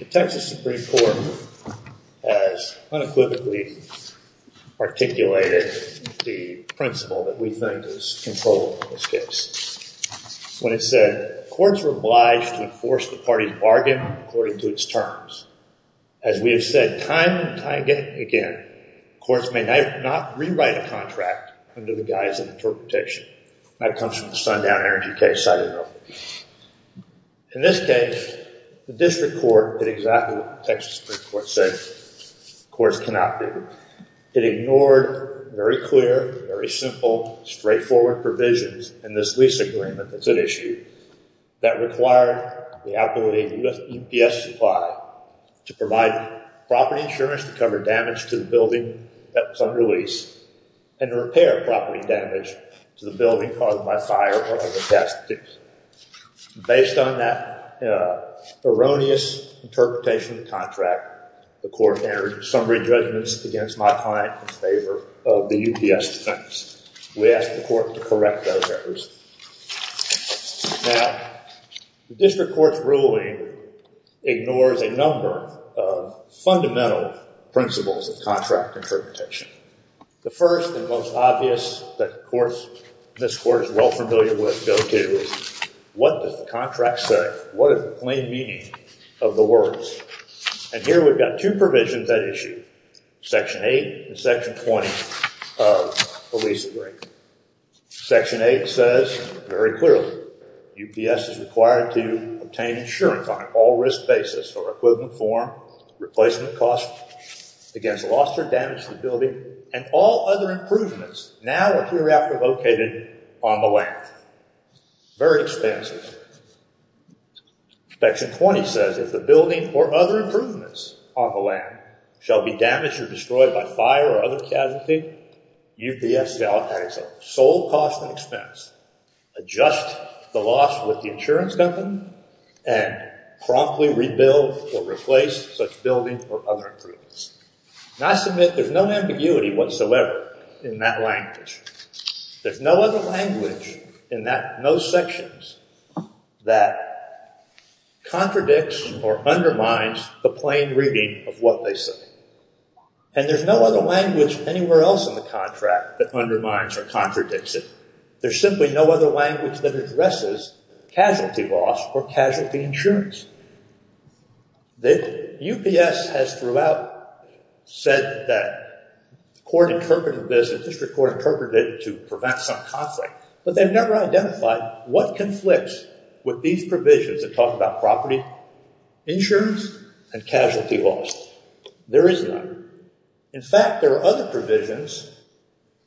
The Texas Supreme Court has unequivocally articulated the principle that we think is controllable in this case. When it said, courts were obliged to enforce the party's bargain according to its terms. As we have said time and again, courts may not rewrite a contract under the guise of interpretation. That comes from the Sundown Energy case, I don't know. In this case, the district court did exactly what the Texas Supreme Court said courts cannot do. It ignored very clear, very simple, straightforward provisions in this lease agreement that's at issue that require the ability of UPS Supply to provide property insurance to cover damage to the building at some release and repair property damage to the building caused by fire or other casualties. Based on that erroneous interpretation of the contract, the court entered summary judgments against my client in favor of the UPS defense. We asked the court to correct those errors. Now, the district court's ruling ignores a number of fundamental principles of contract interpretation. The first and most obvious that this court is well familiar with, go to, is what does the contract say? What is the plain meaning of the words? Here we've got two provisions at issue. Section 8 and Section 20 of the lease agreement. Section 8 says very clearly, UPS is required to obtain insurance on all risk basis for equivalent form, replacement cost against loss or damage to the building, and all other improvements now or hereafter located on the land. Very expensive. Section 20 says if the building or other improvements on the land shall be damaged or destroyed by fire or other casualties, UPS shall, at its sole cost and expense, adjust the loss with the insurance company and promptly rebuild or replace such building or other improvements. And I submit there's no ambiguity whatsoever in that language. There's no other language in those sections that contradicts or undermines the plain reading of what they say. And there's no other language anywhere else in the contract that undermines or contradicts it. There's simply no other language that addresses casualty loss or casualty insurance. UPS has throughout said that the court interpreted this, the district court interpreted it to prevent some conflict. But they've never identified what conflicts with these provisions that talk about property insurance and casualty loss. There is none. In fact, there are other provisions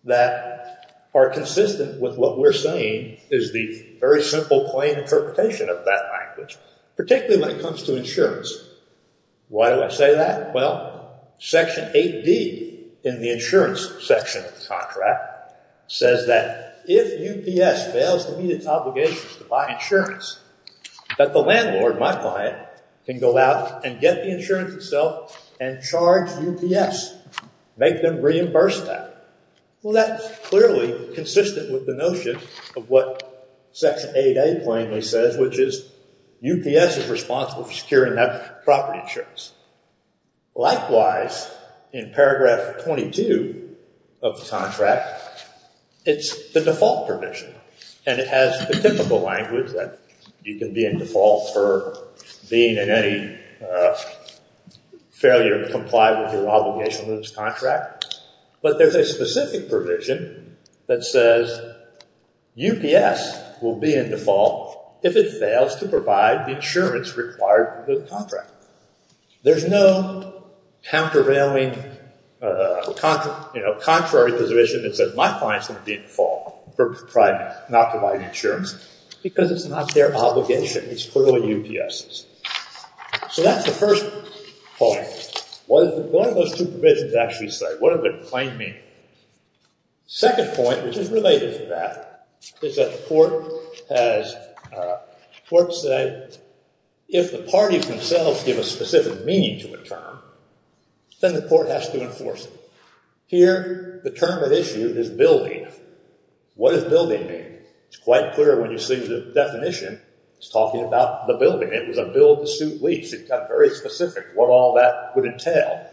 that are consistent with what we're saying is the very simple, plain interpretation of that language, particularly when it comes to insurance. Why do I say that? Well, Section 8D in the insurance section of the contract says that if UPS fails to meet its obligations to buy insurance, that the landlord, my client, can go out and get the insurance itself and charge UPS, make them reimburse that. Well, that's clearly consistent with the notion of what Section 8A plainly says, which is UPS is responsible for securing that property insurance. Likewise, in paragraph 22 of the contract, it's the default provision. And it has the typical language that you can be in default for being in any failure to comply with your obligation to this contract. But there's a specific provision that says UPS will be in default if it fails to provide the insurance required for the contract. There's no countervailing, contrary provision that says my client's going to be in default for not providing insurance because it's not their obligation. It's clearly UPS's. So that's the first point. What do those two provisions actually say? What do they plainly mean? Second point, which is related to that, is that the court said if the parties themselves give a specific meaning to a term, then the court has to enforce it. Here, the term at issue is building. What does building mean? It's quite clear when you see the definition. It's talking about the building. It was a bill to suit lease. It got very specific what all that would entail.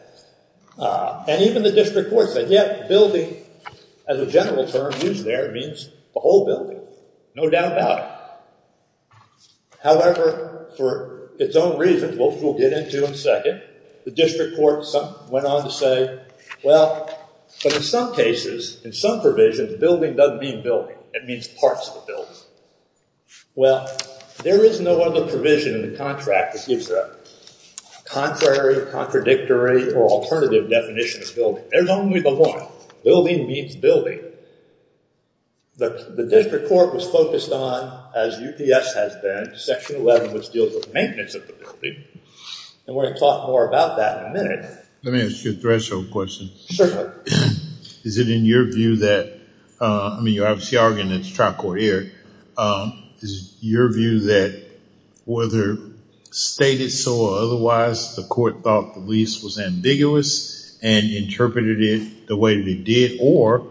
And even the district court said, yeah, building as a general term used there means the whole building, no doubt about it. However, for its own reasons, which we'll get into in a second, the district court went on to say, well, but in some cases, in some provisions, building doesn't mean building. It means parts of the building. Well, there is no other provision in the contract that gives a contrary, contradictory, or alternative definition of building. There's only the one. Building means building. The district court was focused on, as UPS has been, section 11, which deals with maintenance of the building. And we're going to talk more about that in a minute. Let me ask you a threshold question. Certainly. Is it in your view that, I mean, you're obviously arguing it's trial court here. Is your view that whether stated so or otherwise, the court thought the lease was ambiguous and interpreted it the way that it did? Or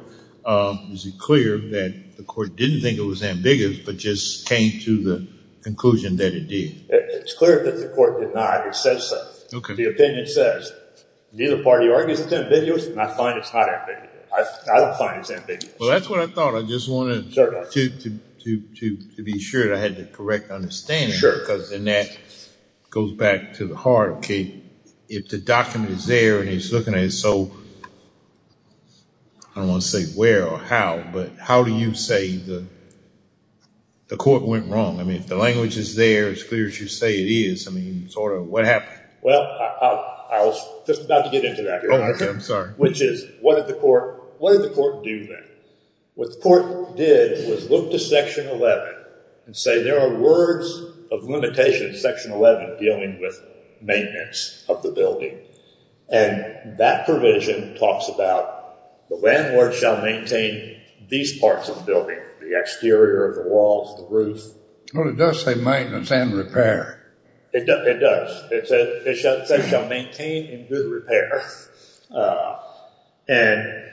is it clear that the court didn't think it was ambiguous but just came to the conclusion that it did? It's clear that the court denied it said so. The opinion says neither party argues it's ambiguous. I find it's not ambiguous. I don't find it's ambiguous. Well, that's what I thought. I just wanted to be sure that I had the correct understanding. Sure. Because then that goes back to the heart. If the document is there and it's looking at it so, I don't want to say where or how, but how do you say the court went wrong? I mean, if the language is there, it's clear as you say it is, I mean, sort of what happened? Well, I was just about to get into that. Oh, okay. I'm sorry. Which is, what did the court do then? What the court did was look to section 11 and say there are words of limitation, section 11, dealing with maintenance of the building. And that provision talks about the landlord shall maintain these parts of the building, the exterior of the walls, the roof. Well, it does say maintenance and repair. It does. It says shall maintain and do repair. And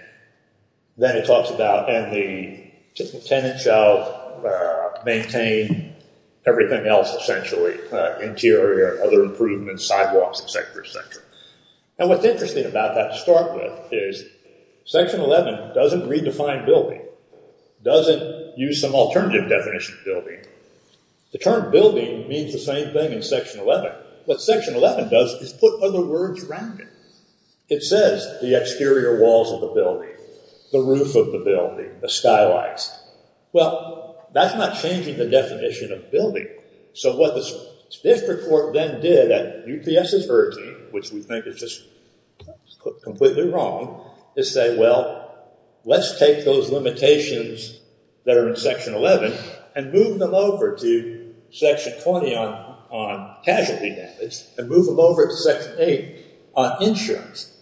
then it talks about, and the tenant shall maintain everything else essentially, interior, other improvements, sidewalks, et cetera, et cetera. And what's interesting about that to start with is section 11 doesn't redefine building, doesn't use some alternative definition of building. The term building means the same thing in section 11. What section 11 does is put other words around it. It says the exterior walls of the building, the roof of the building, the skylights. Well, that's not changing the definition of building. So what this district court then did at UPS's urging, which we think is just completely wrong, is say, well, let's take those limitations that are in section 11 and move them over to section 20 on casualty damage and move them over to section 8 on insurance.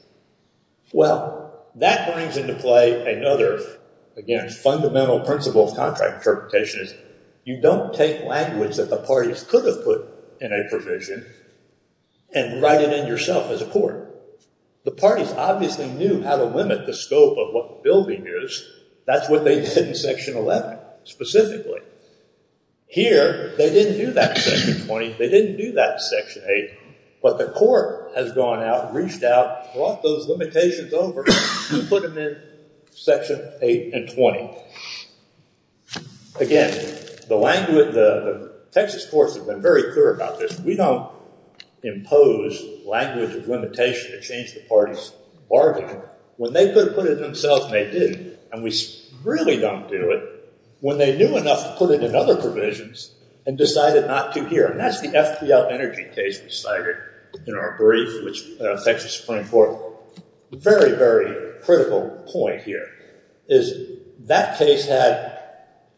Well, that brings into play another, again, fundamental principle of contract interpretation is you don't take language that the parties could have put in a provision and write it in yourself as a court. The parties obviously knew how to limit the scope of what the building is. That's what they did in section 11 specifically. Here, they didn't do that in section 20. They didn't do that in section 8. But the court has gone out, reached out, brought those limitations over, and put them in section 8 and 20. Again, the Texas courts have been very clear about this. We don't impose language of limitation to change the party's bargain. When they could have put it in themselves, and they did, and we really don't do it, when they knew enough to put it in other provisions and decided not to here. And that's the FPL energy case we cited in our brief, which affects the Supreme Court. Very, very critical point here is that case had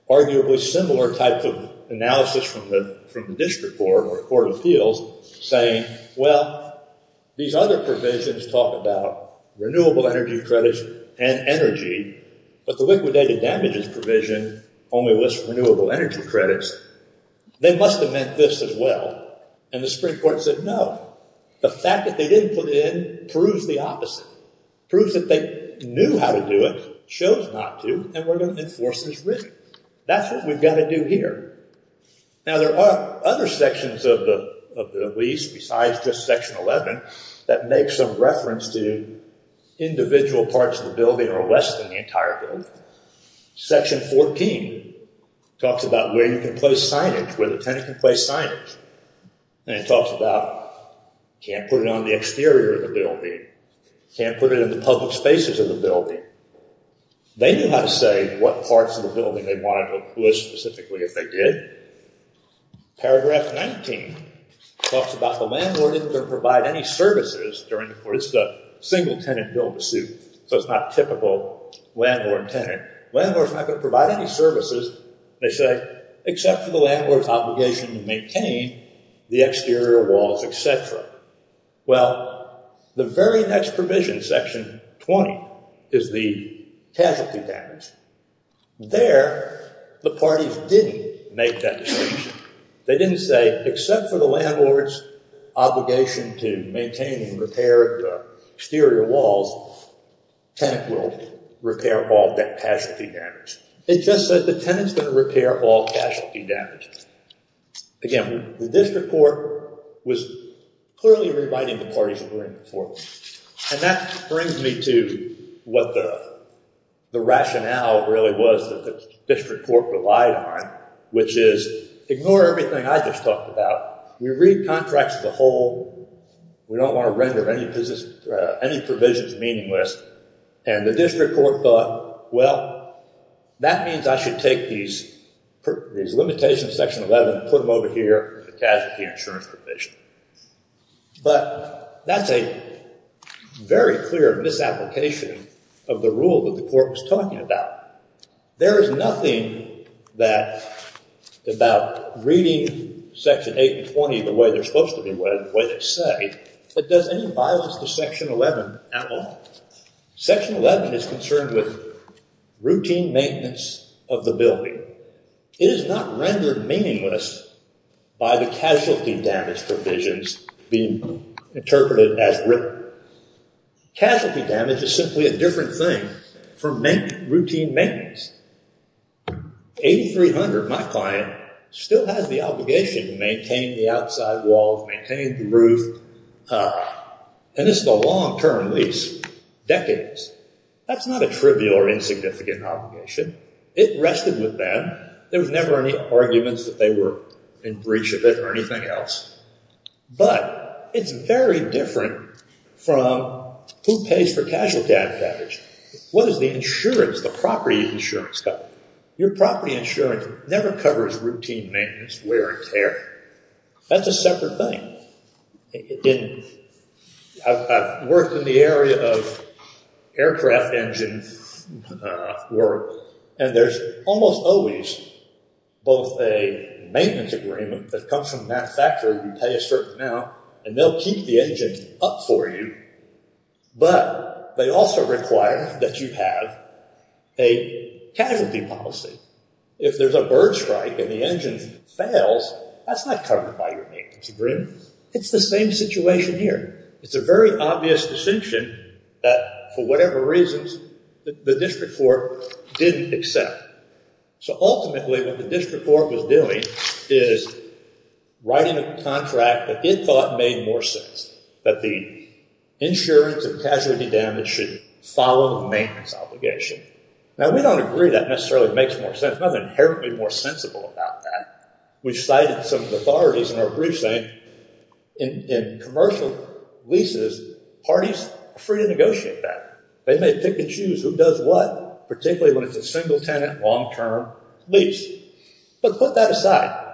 arguably similar types of analysis from the district court or the court of appeals, saying, well, these other provisions talk about renewable energy credits and energy, but the liquidated damages provision only lists renewable energy credits. They must have meant this as well. And the Supreme Court said, no. The fact that they didn't put it in proves the opposite, proves that they knew how to do it, chose not to, and we're going to enforce it as written. That's what we've got to do here. Now, there are other sections of the lease besides just Section 11 that make some reference to individual parts of the building or less than the entire building. Section 14 talks about where you can place signage, where the tenant can place signage. And it talks about can't put it on the exterior of the building, can't put it in the public spaces of the building. They knew how to say what parts of the building they wanted to oppose specifically if they did. Paragraph 19 talks about the landlord didn't provide any services during the court. It's the single-tenant bill pursuit, so it's not typical landlord-tenant. Landlord's not going to provide any services, they say, except for the landlord's obligation to maintain the exterior walls, et cetera. Well, the very next provision, Section 20, is the casualty damage. There, the parties didn't make that decision. They didn't say, except for the landlord's obligation to maintain and repair the exterior walls, tenant will repair all that casualty damage. It just said the tenant's going to repair all casualty damage. Again, the district court was clearly rewriting the parties agreement for them. And that brings me to what the rationale really was that the district court relied on, which is, ignore everything I just talked about. We read contracts as a whole. We don't want to render any provisions meaningless. And the district court thought, well, that means I should take these limitations of Section 11, put them over here, the casualty insurance provision. But that's a very clear misapplication of the rule that the court was talking about. There is nothing about reading Section 8 and 20 the way they're supposed to be read, the way they say, that does any violence to Section 11 at all. Section 11 is concerned with routine maintenance of the building. It is not rendered meaningless by the casualty damage provisions being interpreted as written. Casualty damage is simply a different thing from routine maintenance. 8300, my client, still has the obligation to maintain the outside walls, maintain the roof, and this is a long-term lease, decades. That's not a trivial or insignificant obligation. It rested with them. There was never any arguments that they were in breach of it or anything else. But it's very different from who pays for casualty damage. What is the insurance, the property insurance cover? Your property insurance never covers routine maintenance, wear and tear. That's a separate thing. I've worked in the area of aircraft engine work, and there's almost always both a maintenance agreement that comes from the manufacturer, you pay a certain amount, and they'll keep the engine up for you, but they also require that you have a casualty policy. If there's a bird strike and the engine fails, that's not covered by your maintenance agreement. It's the same situation here. It's a very obvious distinction that, for whatever reasons, the district court didn't accept. So ultimately, what the district court was doing is writing a contract that it thought made more sense that the insurance and casualty damage should follow the maintenance obligation. Now, we don't agree that necessarily makes more sense. There's nothing inherently more sensible about that. We've cited some authorities in our briefs saying, in commercial leases, parties are free to negotiate that. They may pick and choose who does what, particularly when it's a single-tenant, long-term lease. But put that aside.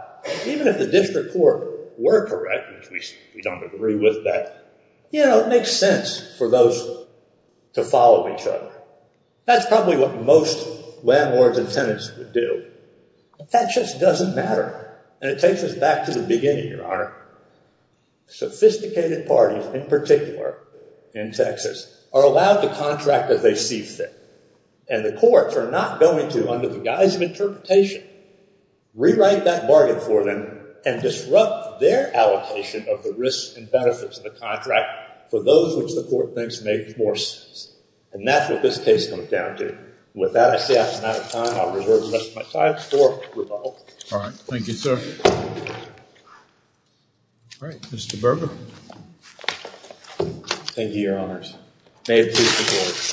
Even if the district court were correct, which we don't agree with, that it makes sense for those to follow each other. That's probably what most landlords and tenants would do. That just doesn't matter, and it takes us back to the beginning, Your Honor. Sophisticated parties, in particular in Texas, are allowed to contract as they see fit, and the courts are not going to, under the guise of interpretation, rewrite that bargain for them and disrupt their allocation of the risks and benefits of the contract for those which the court thinks make more sense. And that's what this case comes down to. With that, I say I'm out of time. I'll reserve the rest of my time for rebuttal. All right. Thank you, sir. All right. Mr. Berger. Thank you, Your Honors. May it please the Court.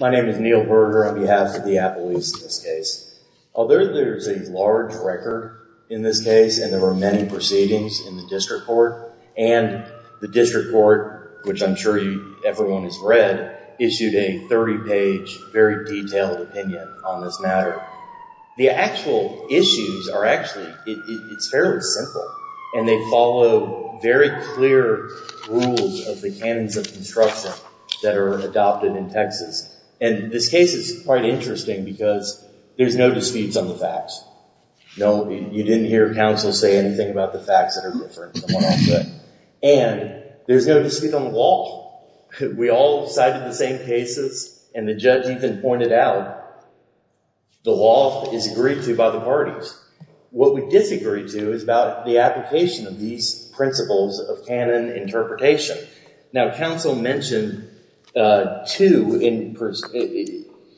My name is Neil Berger on behalf of the Apple Lease in this case. Although there's a large record in this case, and there were many proceedings in the district court, and the district court, which I'm sure everyone has read, issued a 30-page, very detailed opinion on this matter. The actual issues are actually, it's fairly simple, and they follow very clear rules of the canons of construction that are adopted in Texas. And this case is quite interesting because there's no disputes on the facts. No, you didn't hear counsel say anything about the facts that are different from what I'll say. And there's no dispute on the law. We all cited the same cases, and the judge even pointed out the law is agreed to by the parties. What we disagree to is about the application of these principles of canon interpretation. Now, counsel mentioned two,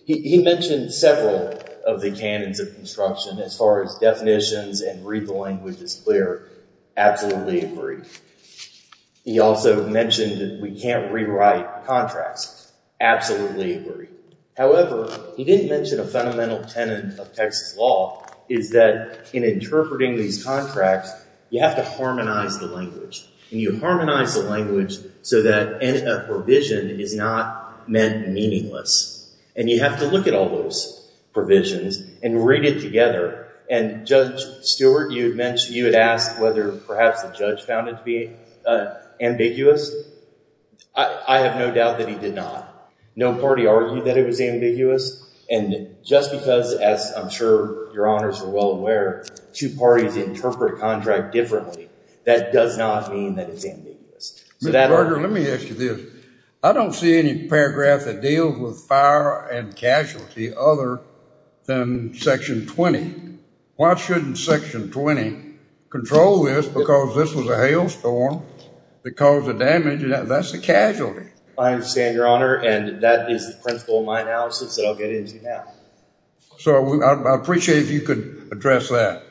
he mentioned several of the canons of construction as far as definitions and read the language as clear. Absolutely agree. He also mentioned that we can't rewrite contracts. Absolutely agree. However, he didn't mention a fundamental tenet of Texas law is that in interpreting these contracts, you have to harmonize the language. And you harmonize the language so that a provision is not meant meaningless. And you have to look at all those provisions and read it together. And Judge Stewart, you had asked whether perhaps the judge found it to be ambiguous. I have no doubt that he did not. No party argued that it was ambiguous. And just because, as I'm sure your honors are well aware, two parties interpret contract differently, that does not mean that it's ambiguous. Mr. Berger, let me ask you this. I don't see any paragraph that deals with fire and casualty other than section 20. Why shouldn't section 20 control this because this was a hailstorm that caused the damage? That's a casualty. I understand, your honor. And that is the principle of my analysis that I'll get into now. So I appreciate if you could address that.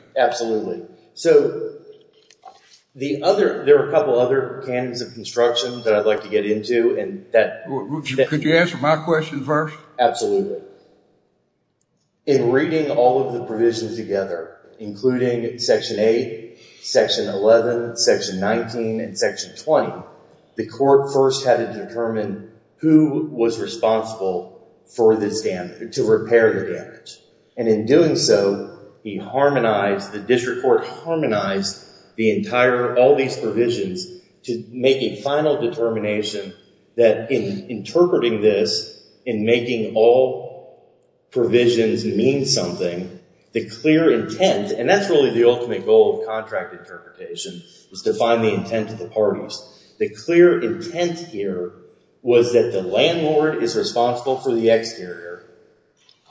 So there are a couple other canons of construction that I'd like to get into. Could you answer my question first? Absolutely. In reading all of the provisions together, including section 8, section 11, section 19, and section 20, the court first had to determine who was responsible for this damage, to repair the damage. And in doing so, the district court harmonized all these provisions to make a final determination that in interpreting this, in making all provisions mean something, the clear intent, and that's really the ultimate goal of contract interpretation, is to find the intent of the parties. The clear intent here was that the landlord is responsible for the exterior,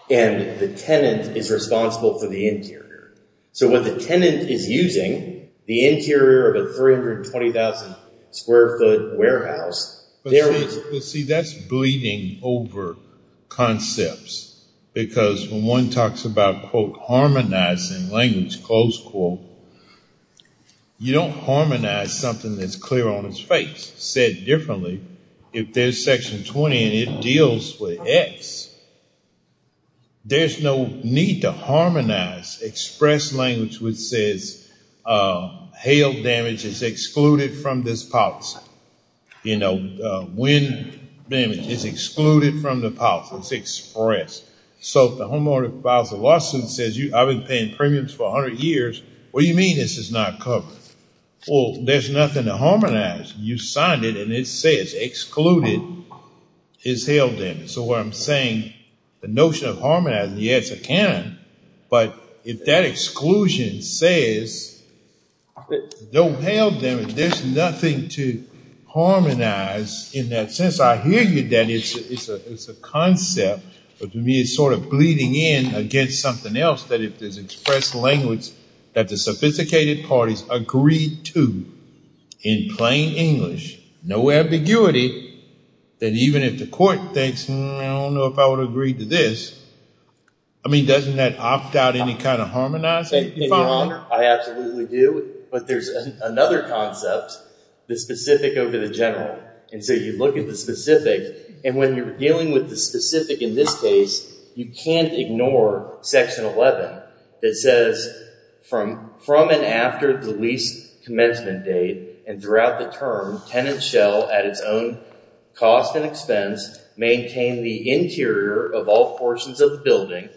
and the tenant is responsible for the interior. So what the tenant is using, the interior of a 320,000-square-foot warehouse, there was— But see, that's bleeding over concepts. Because when one talks about, quote, harmonizing language, close quote, you don't harmonize something that's clear on its face. Said differently, if there's section 20 and it deals with X, there's no need to harmonize express language which says hail damage is excluded from this policy. You know, wind damage is excluded from the policy. It's expressed. So if the homeowner files a lawsuit and says, I've been paying premiums for 100 years, what do you mean this is not covered? Well, there's nothing to harmonize. You signed it, and it says excluded is hail damage. So what I'm saying, the notion of harmonizing, yes, it can, but if that exclusion says no hail damage, there's nothing to harmonize in that sense. I hear you, Danny. It's a concept, but to me it's sort of bleeding in against something else, that if there's express language that the sophisticated parties agree to in plain English, no ambiguity, that even if the court thinks, I don't know if I would agree to this, I mean, doesn't that opt out any kind of harmonizing if I'm wrong? I absolutely do, but there's another concept, the specific over the general. And so you look at the specific, and when you're dealing with the specific in this case, you can't ignore section 11 that says from and after the lease commencement date and throughout the term, tenant shall, at its own cost and expense, maintain the interior of all portions of the building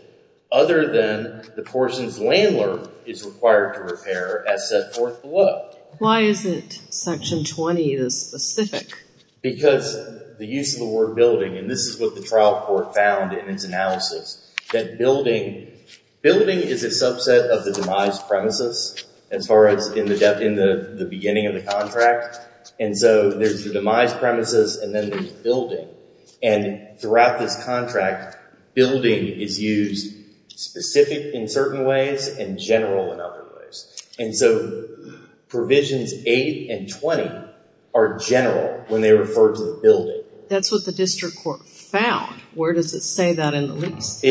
other than the portions landlord is required to repair as set forth below. Why isn't section 20 the specific? Because the use of the word building, and this is what the trial court found in its analysis, that building is a subset of the demise premises as far as in the beginning of the contract. And so there's the demise premises and then there's building. And throughout this contract, building is used specific in certain ways and general in other ways. And so provisions 8 and 20 are general when they refer to the building. That's what the district court found. Where does it say that in the lease?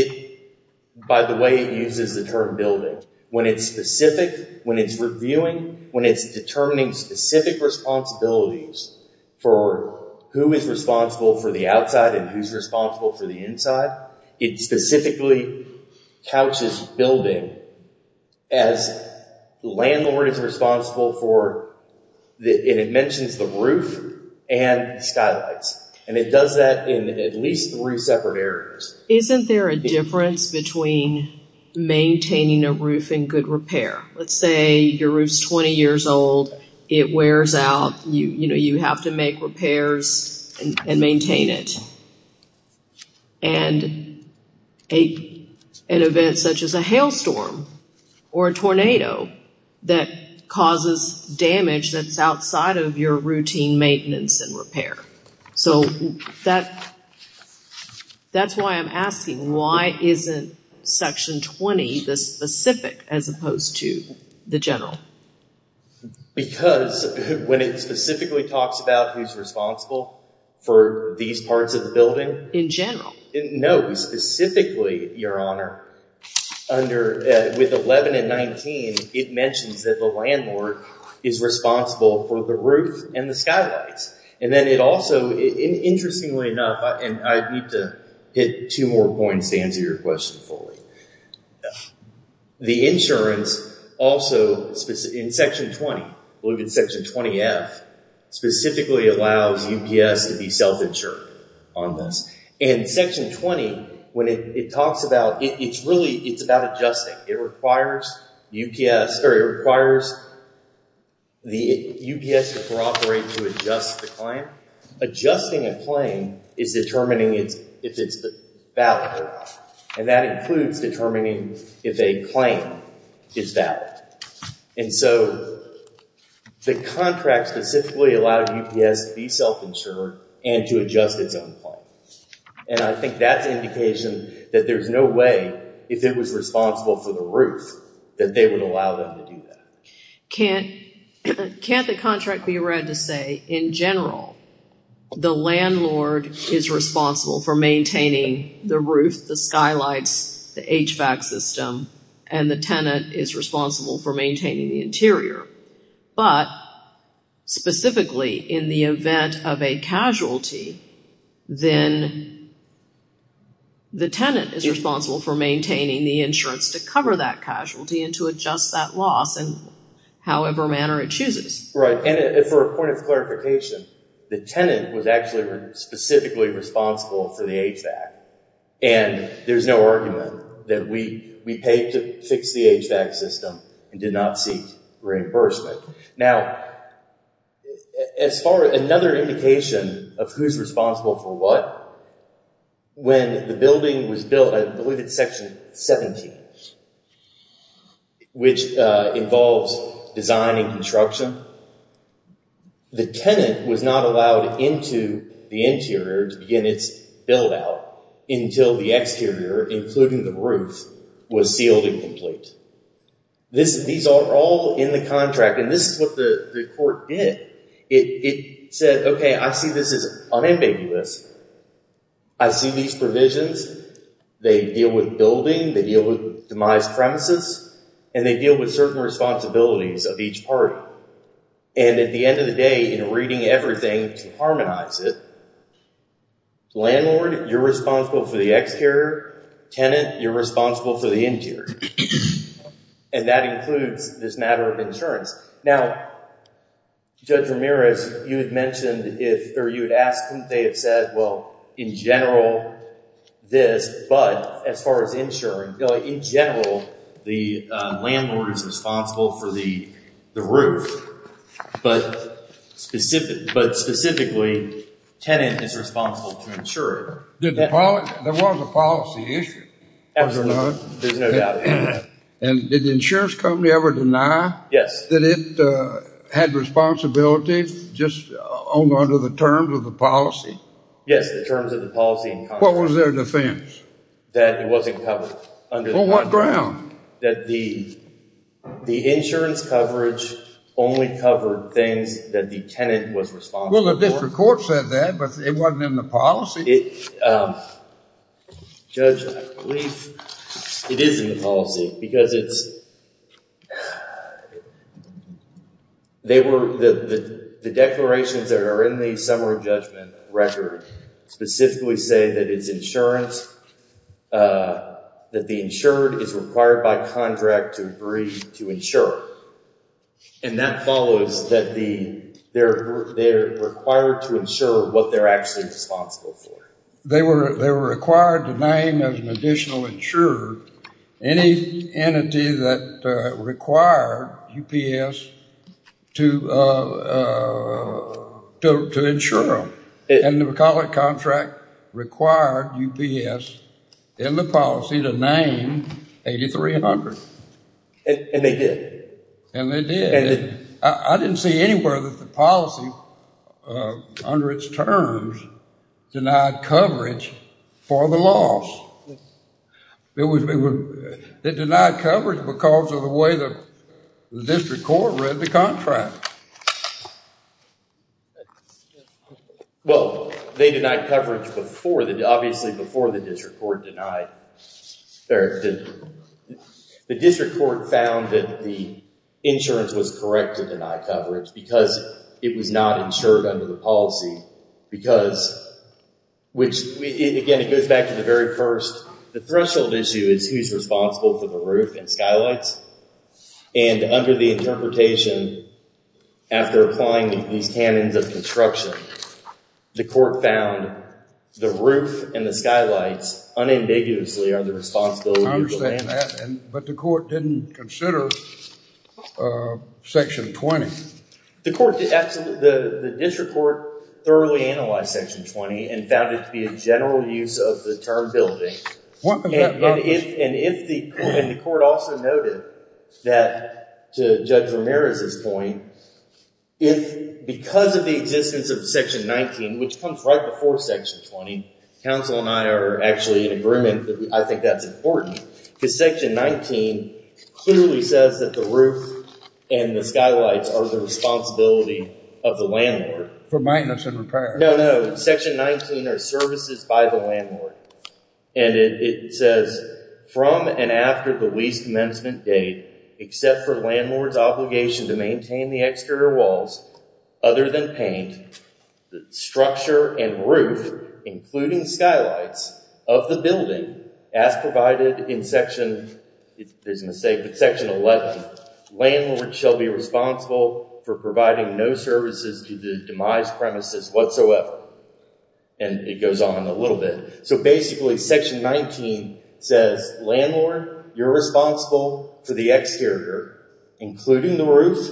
By the way, it uses the term building. When it's specific, when it's reviewing, when it's determining specific responsibilities for who is responsible for the outside and who's responsible for the inside, it specifically couches building as landlord is responsible for, and it mentions the roof and skylights. And it does that in at least three separate areas. Isn't there a difference between maintaining a roof and good repair? Let's say your roof's 20 years old. It wears out. You know, you have to make repairs and maintain it. And an event such as a hailstorm or a tornado that causes damage that's outside of your routine maintenance and repair. So that's why I'm asking, why isn't section 20 the specific as opposed to the general? Because when it specifically talks about who's responsible for these parts of the building. In general? No, specifically, Your Honor, with 11 and 19, it mentions that the landlord is responsible for the roof and the skylights. And then it also, interestingly enough, and I need to hit two more points to answer your question fully. The insurance also, in section 20, look at section 20F, specifically allows UPS to be self-insured on this. And section 20, when it talks about, it's really, it's about adjusting. It requires UPS to cooperate to adjust the claim. Adjusting a claim is determining if it's valid. And that includes determining if a claim is valid. And so the contract specifically allows UPS to be self-insured and to adjust its own claim. And I think that's indication that there's no way, if it was responsible for the roof, that they would allow them to do that. Can't the contract be read to say, in general, the landlord is responsible for maintaining the roof, the skylights, the HVAC system, and the tenant is responsible for maintaining the interior. But, specifically, in the event of a casualty, then the tenant is responsible for maintaining the insurance to cover that casualty and to adjust that loss in however manner it chooses. Right. And for a point of clarification, the tenant was actually specifically responsible for the HVAC. And there's no argument that we paid to fix the HVAC system and did not seek reimbursement. Now, as far as another indication of who's responsible for what, when the building was built, I believe it's Section 17, which involves design and construction, the tenant was not allowed into the interior to begin its build-out until the exterior, including the roof, was sealed and complete. These are all in the contract. And this is what the court did. It said, okay, I see this as unambiguous. I see these provisions. They deal with building. They deal with demised premises. And they deal with certain responsibilities of each party. And at the end of the day, in reading everything to harmonize it, landlord, you're responsible for the exterior. Tenant, you're responsible for the interior. And that includes this matter of insurance. Now, Judge Ramirez, you had mentioned if you had asked them, they had said, well, in general, this, but as far as insuring, in general, the landlord is responsible for the roof. But specifically, tenant is responsible to insure it. There was a policy issue, was there not? There's no doubt about that. And did the insurance company ever deny that it had responsibility just under the terms of the policy? Yes, the terms of the policy. What was their defense? That it wasn't covered under the policy. On what ground? That the insurance coverage only covered things that the tenant was responsible for. Well, the district court said that, but it wasn't in the policy. Judge, I believe it is in the policy because it's... The declarations that are in the summary judgment record specifically say that it's insurance, that the insured is required by contract to agree to insure. And that follows that they're required to insure what they're actually responsible for. They were required to name as an additional insurer any entity that required UPS to insure them. And the McCulloch contract required UPS in the policy to name 8300. And they did? And they did. I didn't see anywhere that the policy, under its terms, denied coverage for the loss. They denied coverage because of the way the district court read the contract. Well, they denied coverage before. Obviously, before the district court denied... The district court found that the insurance was correct to deny coverage because it was not insured under the policy. Again, it goes back to the very first... The threshold issue is who's responsible for the roof and skylights. And under the interpretation, after applying these canons of construction, the court found the roof and the skylights unambiguously are the responsibility of the landowner. I understand that, but the court didn't consider Section 20. The district court thoroughly analyzed Section 20 and found it to be a general use of the term building. And the court also noted that, to Judge Ramirez's point, if, because of the existence of Section 19, which comes right before Section 20, Council and I are actually in agreement that I think that's important, because Section 19 clearly says that the roof and the skylights are the responsibility of the landlord. For maintenance and repair. No, no. Section 19 are services by the landlord. And it says, from and after the lease commencement date, except for landlord's obligation to maintain the exterior walls, other than paint, the structure and roof, including skylights, of the building, as provided in Section 11, landlord shall be responsible for providing no services to the demised premises whatsoever. And it goes on a little bit. So basically, Section 19 says, landlord, you're responsible for the exterior, including the roof,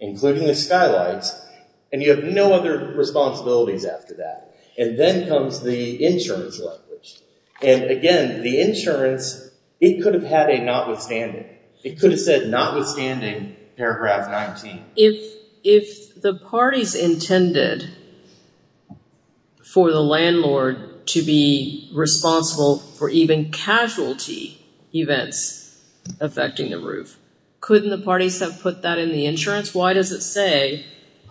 including the skylights, and you have no other responsibilities after that. And then comes the insurance language. And again, the insurance, it could have had a notwithstanding. It could have said notwithstanding paragraph 19. If the parties intended for the landlord to be responsible for even casualty events affecting the roof, couldn't the parties have put that in the insurance? Why does it say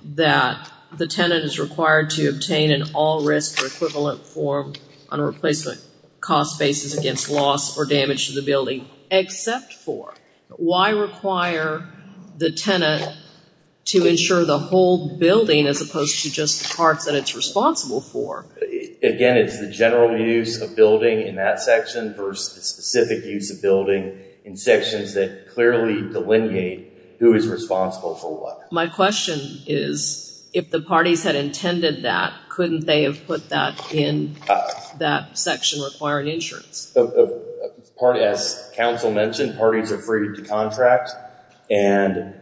that the tenant is required to obtain an all-risk or equivalent form on a replacement cost basis against loss or damage to the building, except for? Why require the tenant to insure the whole building as opposed to just the parts that it's responsible for? Again, it's the general use of building in that section versus the specific use of building in sections that clearly delineate who is responsible for what. My question is, if the parties had intended that, couldn't they have put that in that section requiring insurance? As counsel mentioned, parties are free to contract. And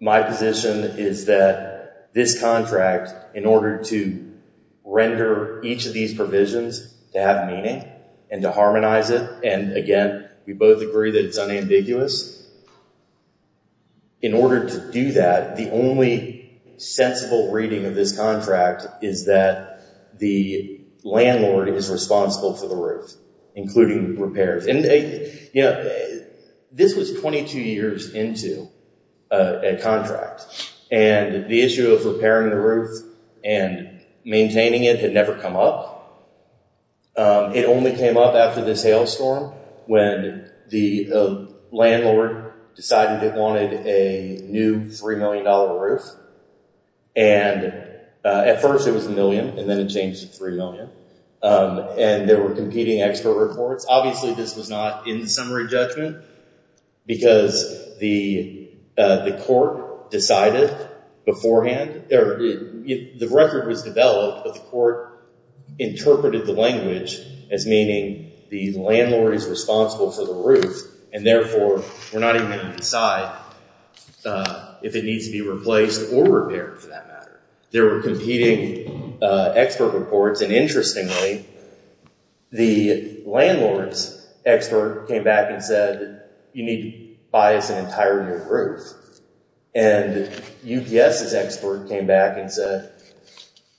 my position is that this contract, in order to render each of these provisions to have meaning and to harmonize it, and again, we both agree that it's unambiguous, in order to do that, the only sensible reading of this contract is that the landlord is responsible for the roof, including repairs. This was 22 years into a contract, and the issue of repairing the roof and maintaining it had never come up. It only came up after this hailstorm when the landlord decided it wanted a new $3 million roof. And at first it was a million, and then it changed to $3 million. And there were competing expert reports. Obviously this was not in the summary judgment because the court decided beforehand. The record was developed, but the court interpreted the language as meaning the landlord is responsible for the roof, and therefore we're not even going to decide if it needs to be replaced or repaired, for that matter. There were competing expert reports, and interestingly, the landlord's expert came back and said, you need to buy us an entire new roof. And UPS's expert came back and said,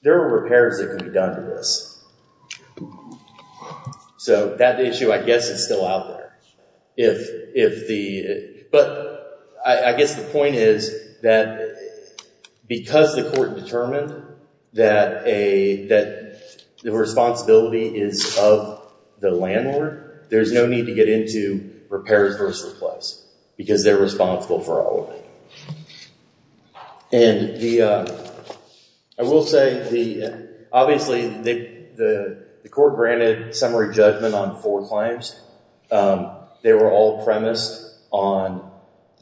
there are repairs that can be done to this. So that issue, I guess, is still out there. But I guess the point is that because the court determined that the responsibility is of the landlord, there's no need to get into repairs versus replace because they're responsible for all of it. And I will say, obviously the court granted summary judgment on four claims. They were all premised on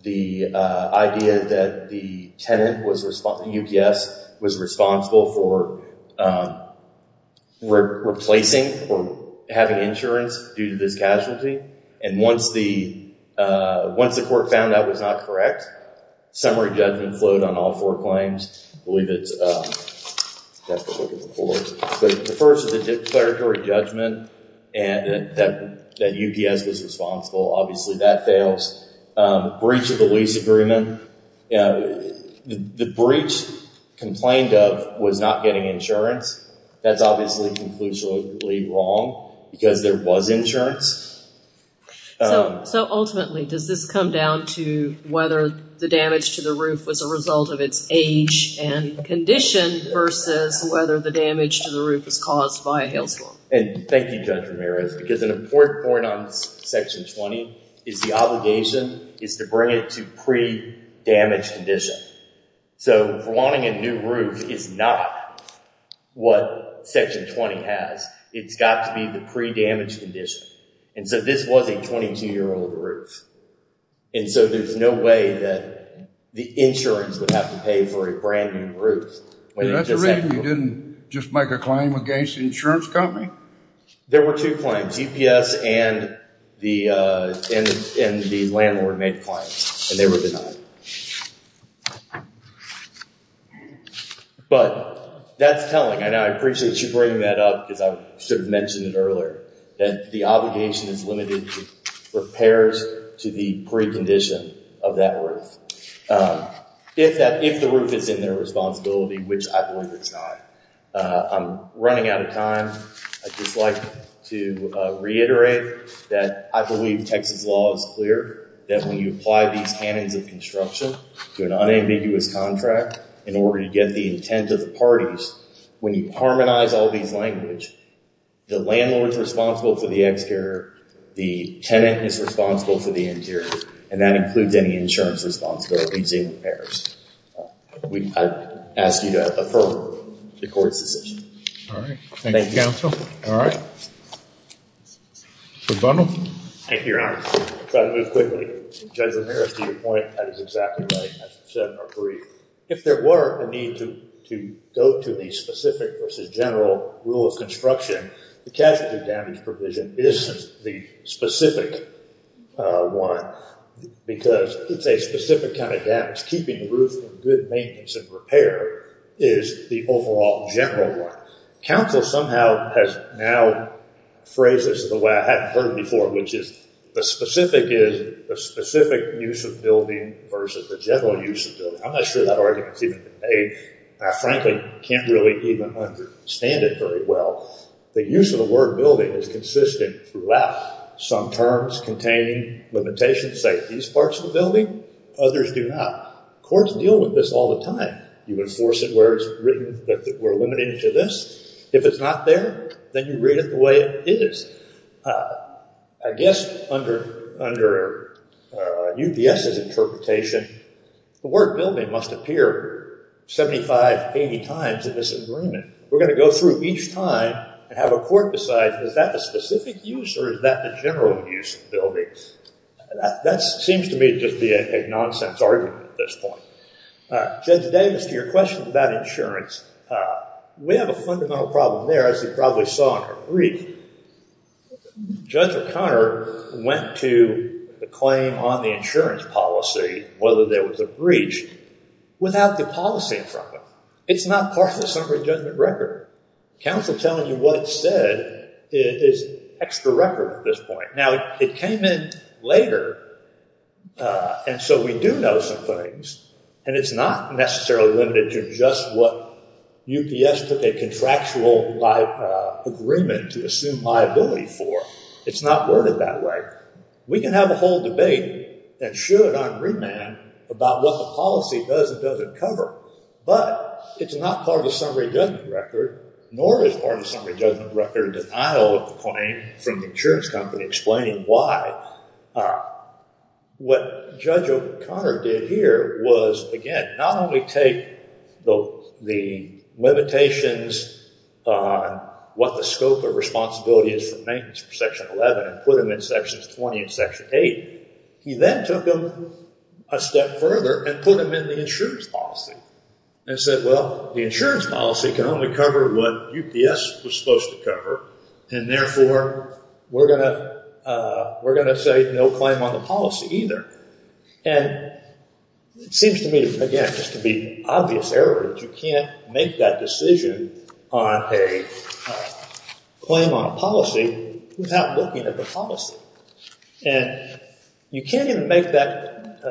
the idea that the tenant, the UPS, was responsible for replacing or having insurance due to this casualty. And once the court found that was not correct, summary judgment flowed on all four claims. I believe that's the fourth. But the first is a declaratory judgment that UPS was responsible. Obviously that fails. Breach of the lease agreement. The breach complained of was not getting insurance. That's obviously conclusively wrong because there was insurance. So ultimately, does this come down to whether the damage to the roof was a result of its age and condition versus whether the damage to the roof was caused by a hail storm? And thank you, Judge Ramirez, because an important point under Section 20 is the obligation is to bring it to pre-damage condition. So wanting a new roof is not what Section 20 has. It's got to be the pre-damage condition. And so this was a 22-year-old roof. And so there's no way that the insurance would have to pay for a brand new roof. That's the reason you didn't just make a claim against the insurance company? There were two claims. UPS and the landlord made claims. And they were denied. But that's telling. And I appreciate you bringing that up because I sort of mentioned it earlier, that the obligation is limited to repairs to the precondition of that roof if the roof is in their responsibility, which I believe it's not. I'm running out of time. I'd just like to reiterate that I believe Texas law is clear that when you apply these canons of construction to an unambiguous contract in order to get the intent of the parties, when you harmonize all these languages, the landlord is responsible for the exterior. The tenant is responsible for the interior. And that includes any insurance responsibility to the repairs. I ask you to affirm the court's decision. All right. Thank you, counsel. All right. Mr. Bundle. Thank you, Your Honor. I'll try to move quickly. Judge Ramirez, to your point, that is exactly right, as you said in our brief. If there were a need to go to the specific versus general rule of construction, the casualty damage provision is the specific one because it's a specific kind of damage keeping the roof in good maintenance and repair is the overall general one. Counsel somehow has now phrased this the way I hadn't heard it before, which is the specific use of building versus the general use of building. I'm not sure that argument's even been made. I frankly can't really even understand it very well. The use of the word building is consistent throughout. Some terms containing limitations say these parts of the building. Others do not. Courts deal with this all the time. You enforce it where it's written that we're limited to this. If it's not there, then you read it the way it is. I guess under UPS's interpretation, the word building must appear 75, 80 times in this agreement. We're going to go through each time and have a court decide, is that the specific use or is that the general use of building? That seems to me to just be a nonsense argument at this point. Judge Davis, to your question about insurance, we have a fundamental problem there, as you probably saw in her brief. Judge O'Connor went to the claim on the insurance policy, whether there was a breach, without the policy in front of it. It's not part of the summary judgment record. Counsel telling you what it said is extra record at this point. Now, it came in later, and so we do know some things, and it's not necessarily limited to just what UPS took a contractual agreement to assume liability for. It's not worded that way. We can have a whole debate and should on remand about what the policy does and doesn't cover, but it's not part of the summary judgment record, nor is part of the summary judgment record in denial of the claim from the insurance company explaining why. What Judge O'Connor did here was, again, not only take the limitations, what the scope of responsibility is for maintenance for Section 11 and put them in Sections 20 and Section 8. He then took them a step further and put them in the insurance policy and said, well, the insurance policy can only cover what UPS was supposed to cover, and therefore we're going to say no claim on the policy either. And it seems to me, again, just to be obvious evidence, you can't make that decision on a claim on a policy without looking at the policy. And you can't even make that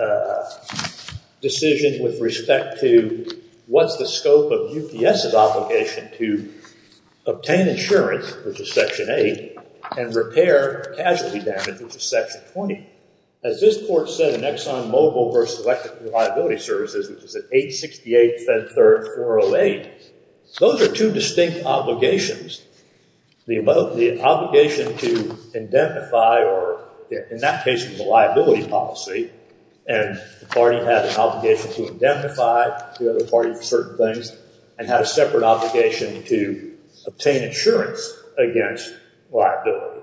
decision with respect to what's the scope of UPS's obligation to obtain insurance, which is Section 8, and repair casualty damage, which is Section 20. As this court said in Exxon Mobil v. Electric Reliability Services, which is at 868 Fed Third 408, those are two distinct obligations. The obligation to indemnify or, in that case, the liability policy, and the party had an obligation to indemnify the other party for certain things and had a separate obligation to obtain insurance against liability.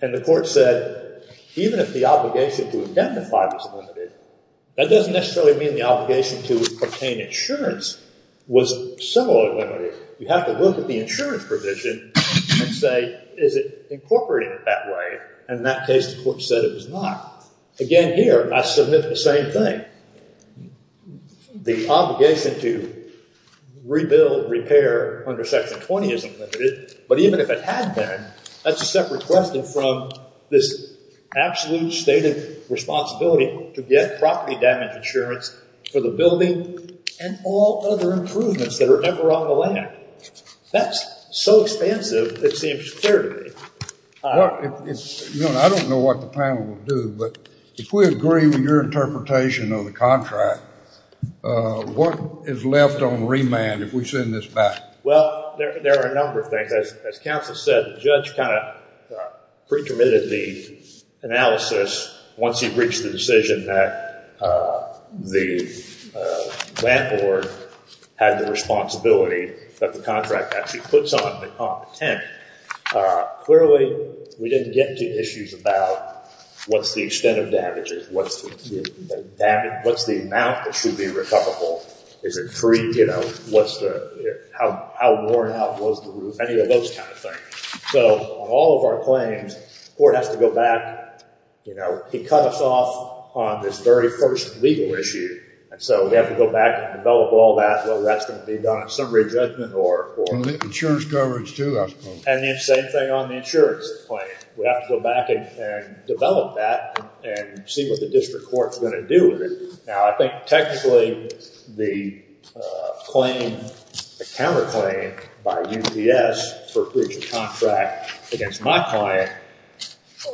And the court said, even if the obligation to indemnify was limited, that doesn't necessarily mean the obligation to obtain insurance was similarly limited. You have to look at the insurance provision and say, is it incorporating it that way? And in that case, the court said it was not. Again, here, I submit the same thing. The obligation to rebuild, repair under Section 20 isn't limited, but even if it had been, that's a separate question from this absolute stated responsibility to get property damage insurance for the building and all other improvements that are ever on the land. That's so expansive, it seems clear to me. I don't know what the panel will do, but if we agree with your interpretation of the contract, what is left on remand if we send this back? Well, there are a number of things. As counsel said, the judge kind of pre-committed the analysis once he reached the decision that the land board had the responsibility that the contract actually puts on the tent. Clearly, we didn't get to issues about what's the extent of damages, what's the amount that should be recoverable, is it free, you know, how worn out was the roof, any of those kind of things. So on all of our claims, the court has to go back. He cut us off on this very first legal issue, and so we have to go back and develop all that, whether that's going to be done in summary judgment or – Insurance coverage too, I suppose. And the same thing on the insurance claim. We have to go back and develop that and see what the district court is going to do with it. Now, I think technically the claim, the counterclaim by UPS for breach of contract against my client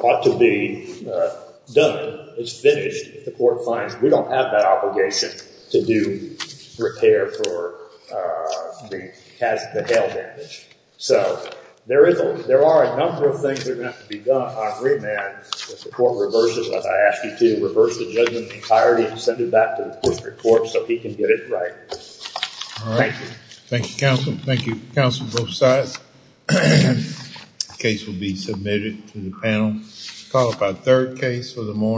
ought to be done. It's finished if the court finds we don't have that obligation to do repair for the hail damage. So there are a number of things that are going to have to be done on remand if the court reverses what I asked you to, reverse the judgment entirely and send it back to the district court so he can get it right. Thank you. Thank you, counsel. Thank you, counsel, both sides. The case will be submitted to the panel. We'll call up our third case for the morning.